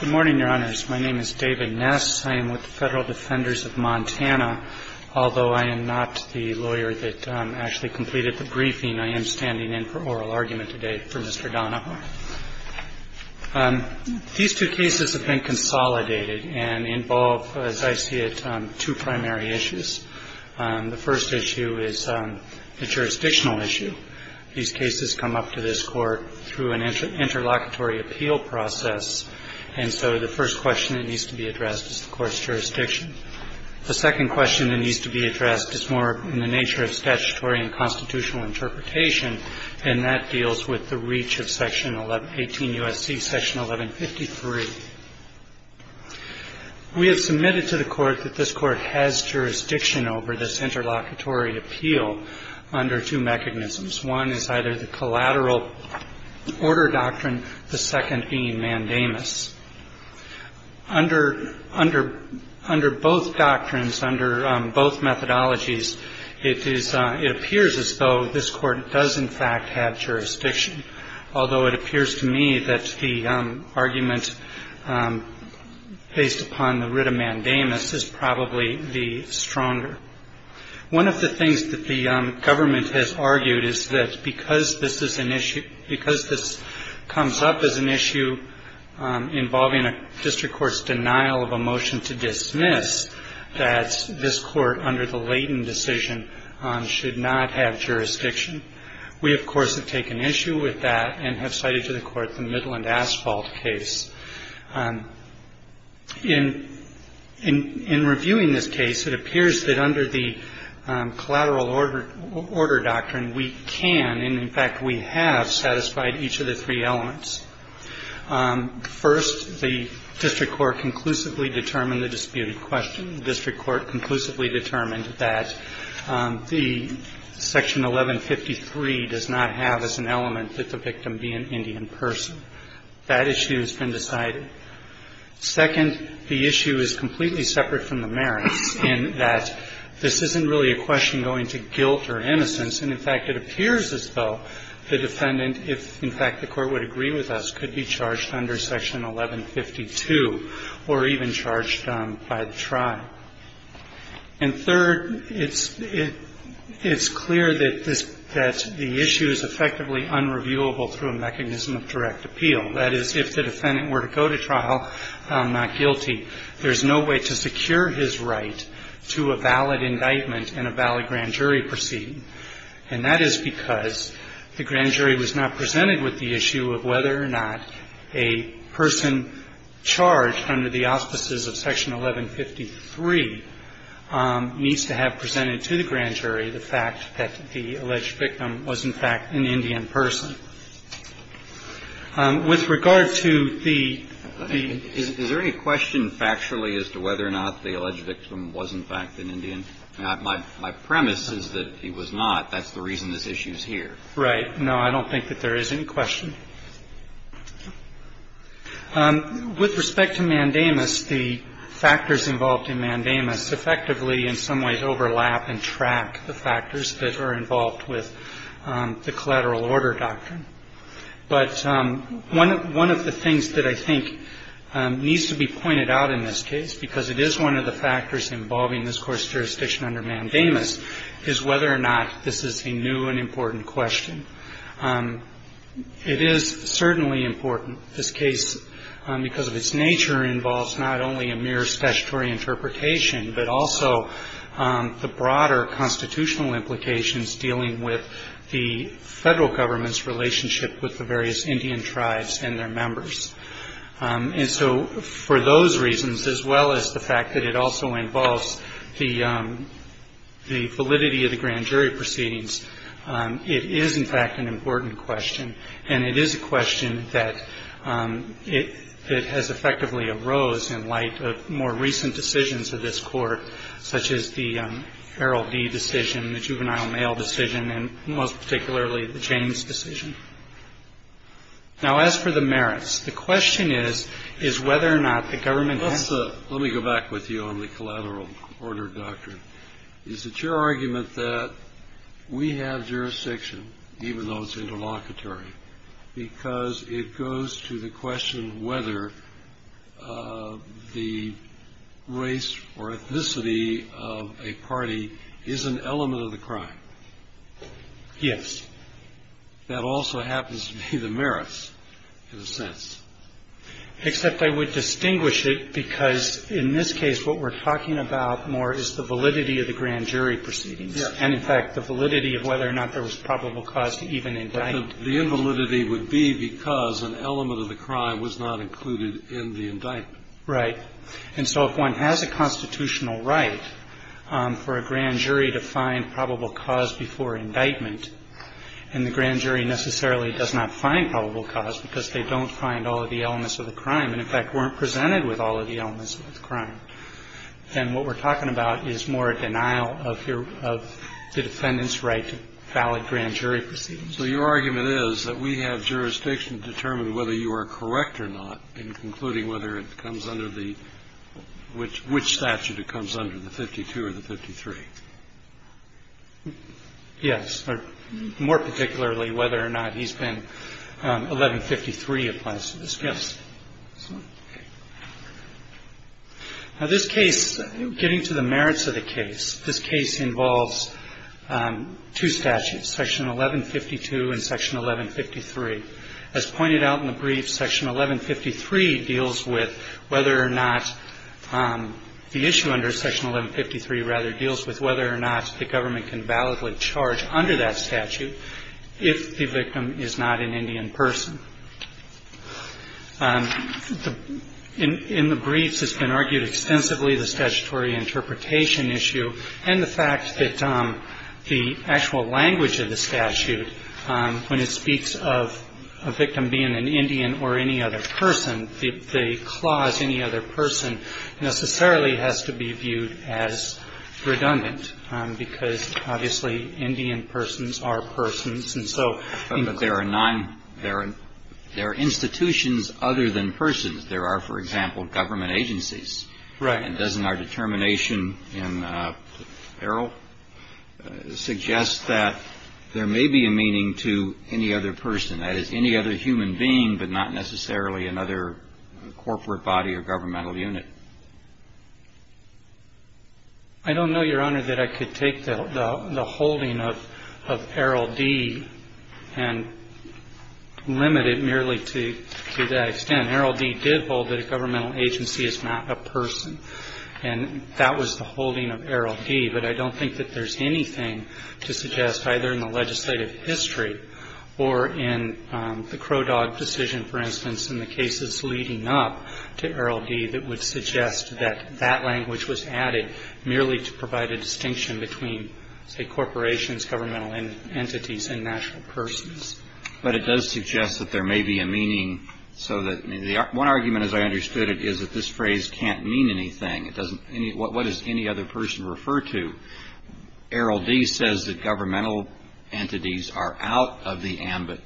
Good morning, Your Honors. My name is David Ness. I am with the Federal Defenders of Montana. Although I am not the lawyer that actually completed the briefing, I am standing in for oral argument today for Mr. Donahoe. These two cases have been consolidated and involve, as I see it, two primary issues. The first issue is the jurisdictional issue. These cases come up to this Court through an interlocutory appeal process, and so the first question that needs to be addressed is the Court's jurisdiction. The second question that needs to be addressed is more in the nature of statutory and constitutional interpretation, and that deals with the reach of Section 1118 U.S.C., Section 1153. We have submitted to the Court that this Court has jurisdiction over this interlocutory appeal under two mechanisms. One is either the collateral order doctrine, the second being mandamus. Under both doctrines, under both methodologies, it appears as though this Court does, in fact, have jurisdiction, although it appears to me that the argument based upon the writ of mandamus is probably the stronger. One of the things that the government has argued is that because this is an issue, because this comes up as an issue involving a district court's denial of a motion to dismiss, that this Court, under the Layton decision, should not have jurisdiction. We, of course, have taken issue with that and have cited to the Court the Midland Asphalt case. In reviewing this case, it appears that under the collateral order doctrine, we can and, in fact, we have satisfied each of the three elements. First, the district court conclusively determined the disputed question. The district court conclusively determined that the Section 1153 does not have as an element that the victim be an Indian person. That issue has been decided. Second, the issue is completely separate from the merits in that this isn't really a question going to guilt or innocence. And, in fact, it appears as though the defendant, if, in fact, the Court would agree with us, could be charged under Section 1152 or even charged by the tribe. And third, it's clear that the issue is effectively unreviewable through a mechanism of direct appeal. That is, if the defendant were to go to trial not guilty, there's no way to secure his right to a valid indictment and a valid grand jury proceeding. And that is because the grand jury was not presented with the issue of whether or not a person charged under the auspices of Section 1153 needs to have presented to the grand jury the fact that the alleged victim was, in fact, an Indian person. With regard to the... Is there any question factually as to whether or not the alleged victim was, in fact, an Indian? My premise is that he was not. That's the reason this issue is here. Right. No, I don't think that there is any question. With respect to mandamus, the factors involved in mandamus effectively, in some ways, overlap and track the factors that are involved with the collateral order doctrine. But one of the things that I think needs to be pointed out in this case, because it is one of the factors involving this court's jurisdiction under mandamus, is whether or not this is a new and important question. It is certainly important. This case, because of its nature, involves not only a mere statutory interpretation, but also the broader constitutional implications dealing with the Federal Government's relationship with the various Indian tribes and their members. And so for those reasons, as well as the fact that it also involves the validity of the grand jury proceedings, it is, in fact, an important question. And it is a question that has effectively arose in light of more recent decisions of this Court, such as the Feral D decision, the Juvenile Mail decision, and most particularly the James decision. Now, as for the merits, the question is, is whether or not the Government has the merits. And I think that's a good question, because it goes to the question whether the race or ethnicity of a party is an element of the crime. Yes. That also happens to be the merits, in a sense. Except I would distinguish it, because in this case, what we're talking about more is the validity of the grand jury proceedings. Yes. And, in fact, the validity of whether or not there was probable cause to even indict. The invalidity would be because an element of the crime was not included in the indictment. Right. And so if one has a constitutional right for a grand jury to find probable cause before indictment, and the grand jury necessarily does not find probable cause because they don't find all of the elements of the crime and, in fact, weren't presented with all of the elements of the crime, then what we're talking about is more a denial of the defendant's right to valid grand jury proceedings. So your argument is that we have jurisdiction to determine whether you are correct or not in concluding whether it comes under the – which statute it comes under, the 52 or the 53? Yes. More particularly, whether or not he's been 1153, it applies to this case. Yes. Now, this case, getting to the merits of the case, this case involves two statutes, Section 1152 and Section 1153. As pointed out in the brief, Section 1153 deals with whether or not the issue under Section 1153, rather, deals with whether or not the government can validly charge under that statute if the victim is not an Indian person. In the briefs, it's been argued extensively the statutory interpretation issue and the fact that the actual language of the statute, when it speaks of a victim being an Indian or any other person, the clause, any other person, necessarily has to be viewed as redundant because, obviously, Indian persons are persons, and so – There are institutions other than persons. There are, for example, government agencies. Right. And doesn't our determination in Errol suggest that there may be a meaning to any other person, that is, any other human being, but not necessarily another corporate body or governmental unit? I don't know, Your Honor, that I could take the holding of Errol D. and limit it merely to that extent. Errol D. did hold that a governmental agency is not a person, and that was the holding of Errol D., but I don't think that there's anything to suggest, either in the legislative history or in the Crow Dog decision, for instance, in the cases leading up to Errol D. that would suggest that that language was added merely to provide a distinction between, say, corporations, governmental entities, and national persons. But it does suggest that there may be a meaning so that – One argument, as I understood it, is that this phrase can't mean anything. It doesn't – What does any other person refer to? Errol D. says that governmental entities are out of the ambit.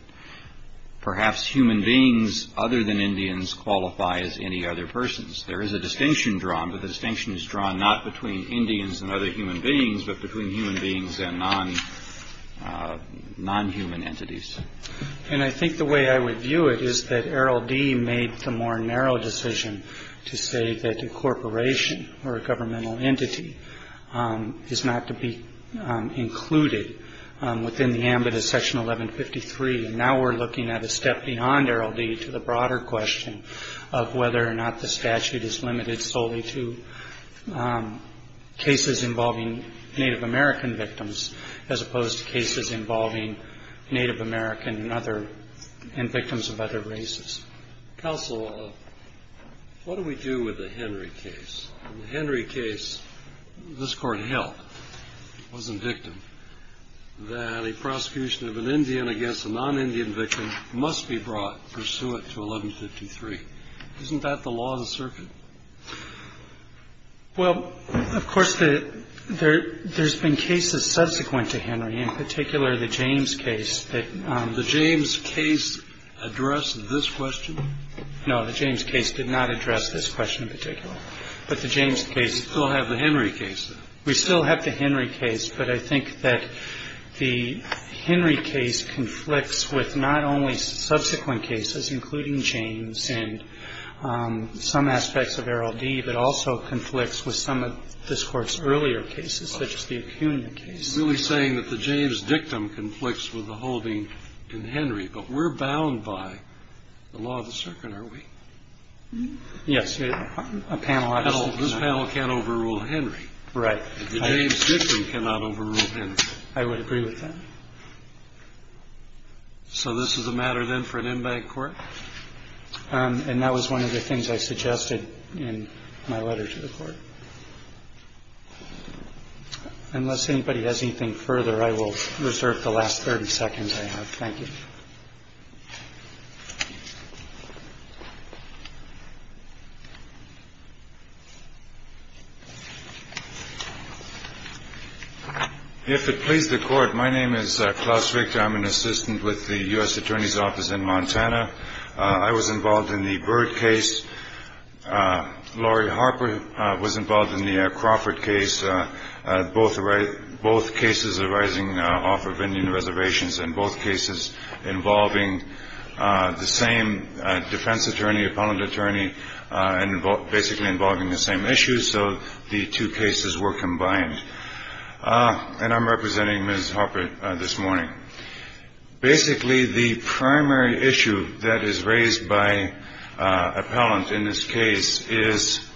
Perhaps human beings other than Indians qualify as any other persons. There is a distinction drawn, but the distinction is drawn not between Indians and other human beings, but between human beings and non-human entities. And I think the way I would view it is that Errol D. made the more narrow decision to say that incorporation or a governmental entity is not to be included within the ambit of Section 1153. And now we're looking at a step beyond Errol D. to the broader question of whether or not the statute is limited solely to cases involving Native American victims as opposed to cases involving Native American and other – and victims of other races. Counsel, what do we do with the Henry case? In the Henry case, this Court held, it wasn't victim, that a prosecution of an Indian against a non-Indian victim must be brought pursuant to 1153. Isn't that the law of the circuit? Well, of course, there's been cases subsequent to Henry, in particular the James case. The James case addressed this question? No, the James case did not address this question in particular. But the James case – We still have the Henry case, though. We still have the Henry case, but I think that the Henry case conflicts with not only subsequent cases, including James and some aspects of Errol D., but also conflicts with some of this Court's earlier cases, such as the Acuna case. You're really saying that the James dictum conflicts with the holding in Henry, but we're bound by the law of the circuit, aren't we? Yes. This panel can't overrule Henry. Right. The James dictum cannot overrule Henry. I would agree with that. So this is a matter, then, for an in-bank Court? And that was one of the things I suggested in my letter to the Court. Unless anybody has anything further, I will reserve the last 30 seconds I have. Thank you. Thank you. If it pleases the Court, my name is Klaus Richter. I'm an assistant with the U.S. Attorney's Office in Montana. I was involved in the Byrd case. Laurie Harper was involved in the Crawford case. Both cases arising off of Indian reservations, and both cases involving the same defense attorney, appellant attorney, and basically involving the same issues, so the two cases were combined. And I'm representing Ms. Harper this morning. Basically, the primary issue that is raised by appellant in this case is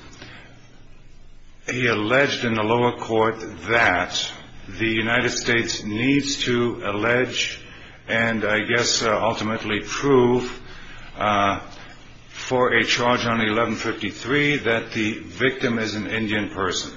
he alleged in the lower court that the United States needs to allege and I guess ultimately prove for a charge on 1153 that the victim is an Indian person.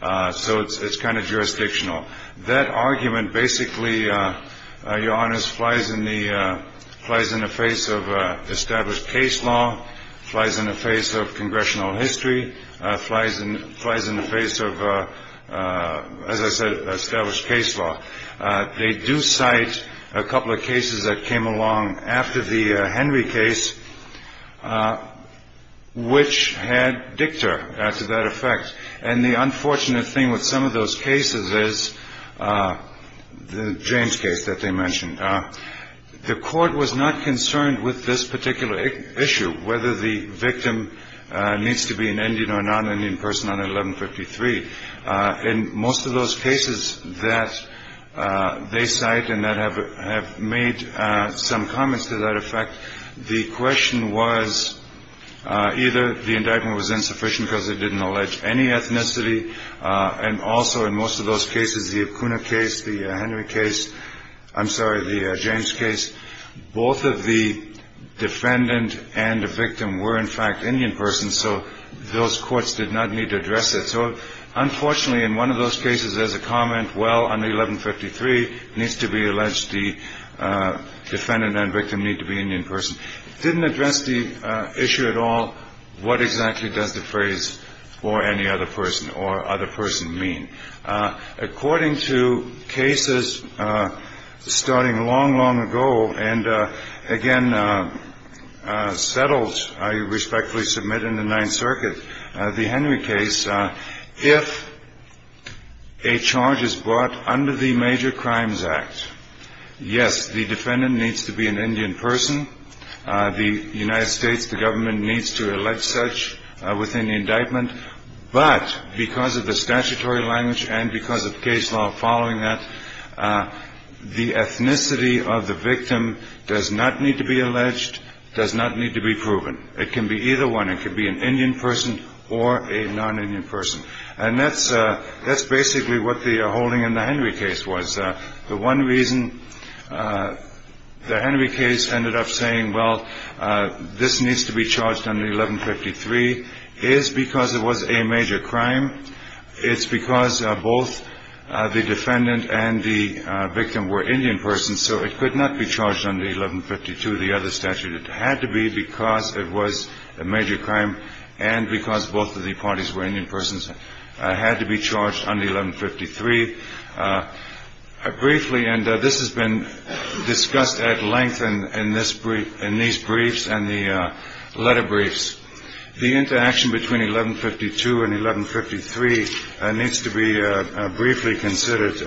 So it's kind of jurisdictional. That argument basically, Your Honors, flies in the face of established case law, flies in the face of congressional history, flies in the face of, as I said, established case law. They do cite a couple of cases that came along after the Henry case, which had dicta to that effect. And the unfortunate thing with some of those cases is the James case that they mentioned. The court was not concerned with this particular issue, whether the victim needs to be an Indian or non-Indian person on 1153. In most of those cases that they cite and that have made some comments to that effect, the question was either the indictment was insufficient because it didn't allege any ethnicity, and also in most of those cases, the Acuna case, the Henry case, I'm sorry, the James case, both of the defendant and the victim were, in fact, Indian persons. So those courts did not need to address it. So unfortunately, in one of those cases, there's a comment, well, on 1153, it needs to be alleged the defendant and victim need to be Indian persons. It didn't address the issue at all what exactly does the phrase for any other person or other person mean. According to cases starting long, long ago and, again, settled, I respectfully submit, in the Ninth Circuit, the Henry case, if a charge is brought under the Major Crimes Act, yes, the defendant needs to be an Indian person. The United States, the government, needs to allege such within the indictment. But because of the statutory language and because of case law following that, the ethnicity of the victim does not need to be alleged, does not need to be proven. It can be either one. It can be an Indian person or a non-Indian person. And that's basically what the holding in the Henry case was. The one reason the Henry case ended up saying, well, this needs to be charged under 1153, is because it was a major crime. It's because both the defendant and the victim were Indian persons, so it could not be charged under 1152, the other statute. It had to be because it was a major crime and because both of the parties were Indian persons. It had to be charged under 1153. Briefly, and this has been discussed at length in these briefs and the letter briefs, the interaction between 1152 and 1153 needs to be briefly considered.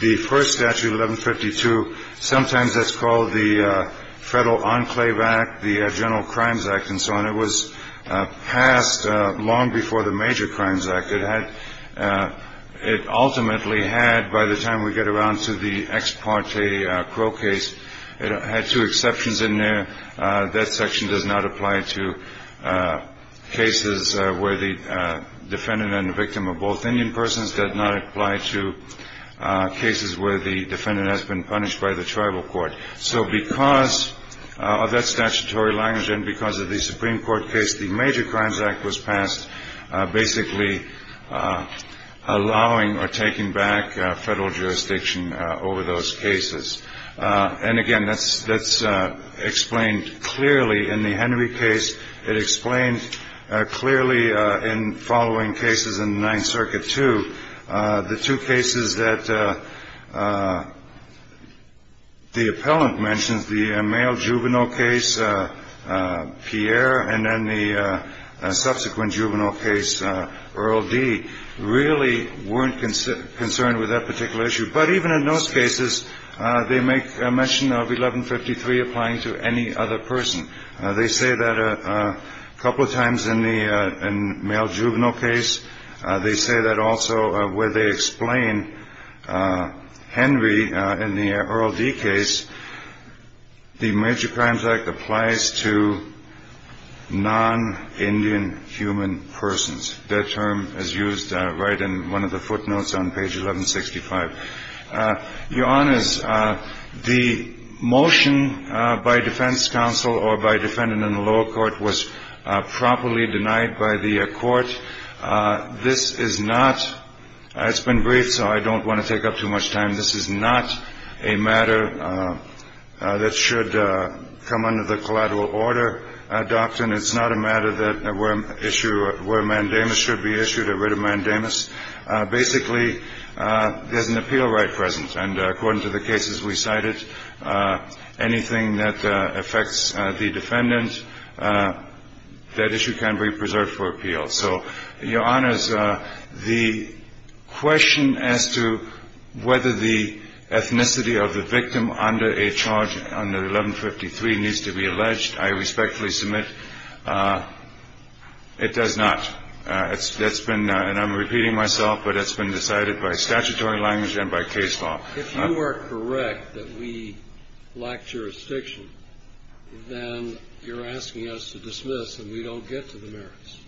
The first statute, 1152, sometimes that's called the Federal Enclave Act, the General Crimes Act, and so on. It was passed long before the Major Crimes Act. It ultimately had, by the time we get around to the ex parte Crow case, it had two exceptions in there. That section does not apply to cases where the defendant and the victim are both Indian persons, does not apply to cases where the defendant has been punished by the tribal court. So because of that statutory language and because of the Supreme Court case, the Major Crimes Act was passed basically allowing or taking back federal jurisdiction over those cases. And, again, that's explained clearly in the Henry case. It explains clearly in following cases in the Ninth Circuit, too, the two cases that the appellant mentions, the male juvenile case, Pierre, and then the subsequent juvenile case, Earl D., really weren't concerned with that particular issue. But even in those cases, they make mention of 1153 applying to any other person. They say that a couple of times in the male juvenile case. They say that also where they explain Henry in the Earl D. case, the Major Crimes Act applies to non-Indian human persons. That term is used right in one of the footnotes on page 1165. Your Honors, the motion by defense counsel or by defendant in the lower court was properly denied by the court. This is not – it's been briefed, so I don't want to take up too much time. This is not a matter that should come under the collateral order doctrine. It's not a matter that issue – where mandamus should be issued or writ of mandamus. Basically, there's an appeal right present. And according to the cases we cited, anything that affects the defendant, that issue can be preserved for appeal. So, Your Honors, the question as to whether the ethnicity of the victim under a charge under 1153 needs to be alleged, I respectfully submit it does not. It's been – and I'm repeating myself, but it's been decided by statutory language and by case law. If you are correct that we lack jurisdiction, then you're asking us to dismiss and we don't get to the merits.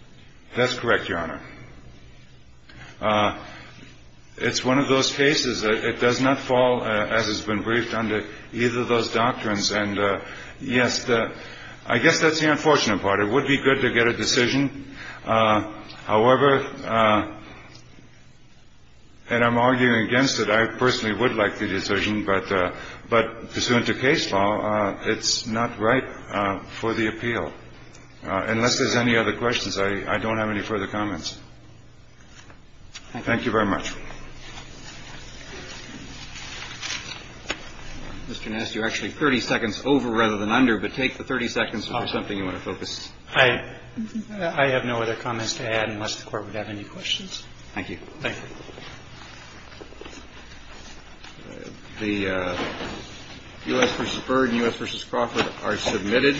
That's correct, Your Honor. It's one of those cases. It does not fall, as has been briefed, under either of those doctrines. And, yes, I guess that's the unfortunate part. It would be good to get a decision. However – and I'm arguing against it. I personally would like the decision. But pursuant to case law, it's not right for the appeal. Unless there's any other questions, I don't have any further comments. Thank you very much. Mr. Nass, you're actually 30 seconds over rather than under, but take the 30 seconds for something you want to focus. I have no other comments to add unless the Court would have any questions. Thank you. Thank you. The U.S. v. Byrd and U.S. v. Crawford are submitted.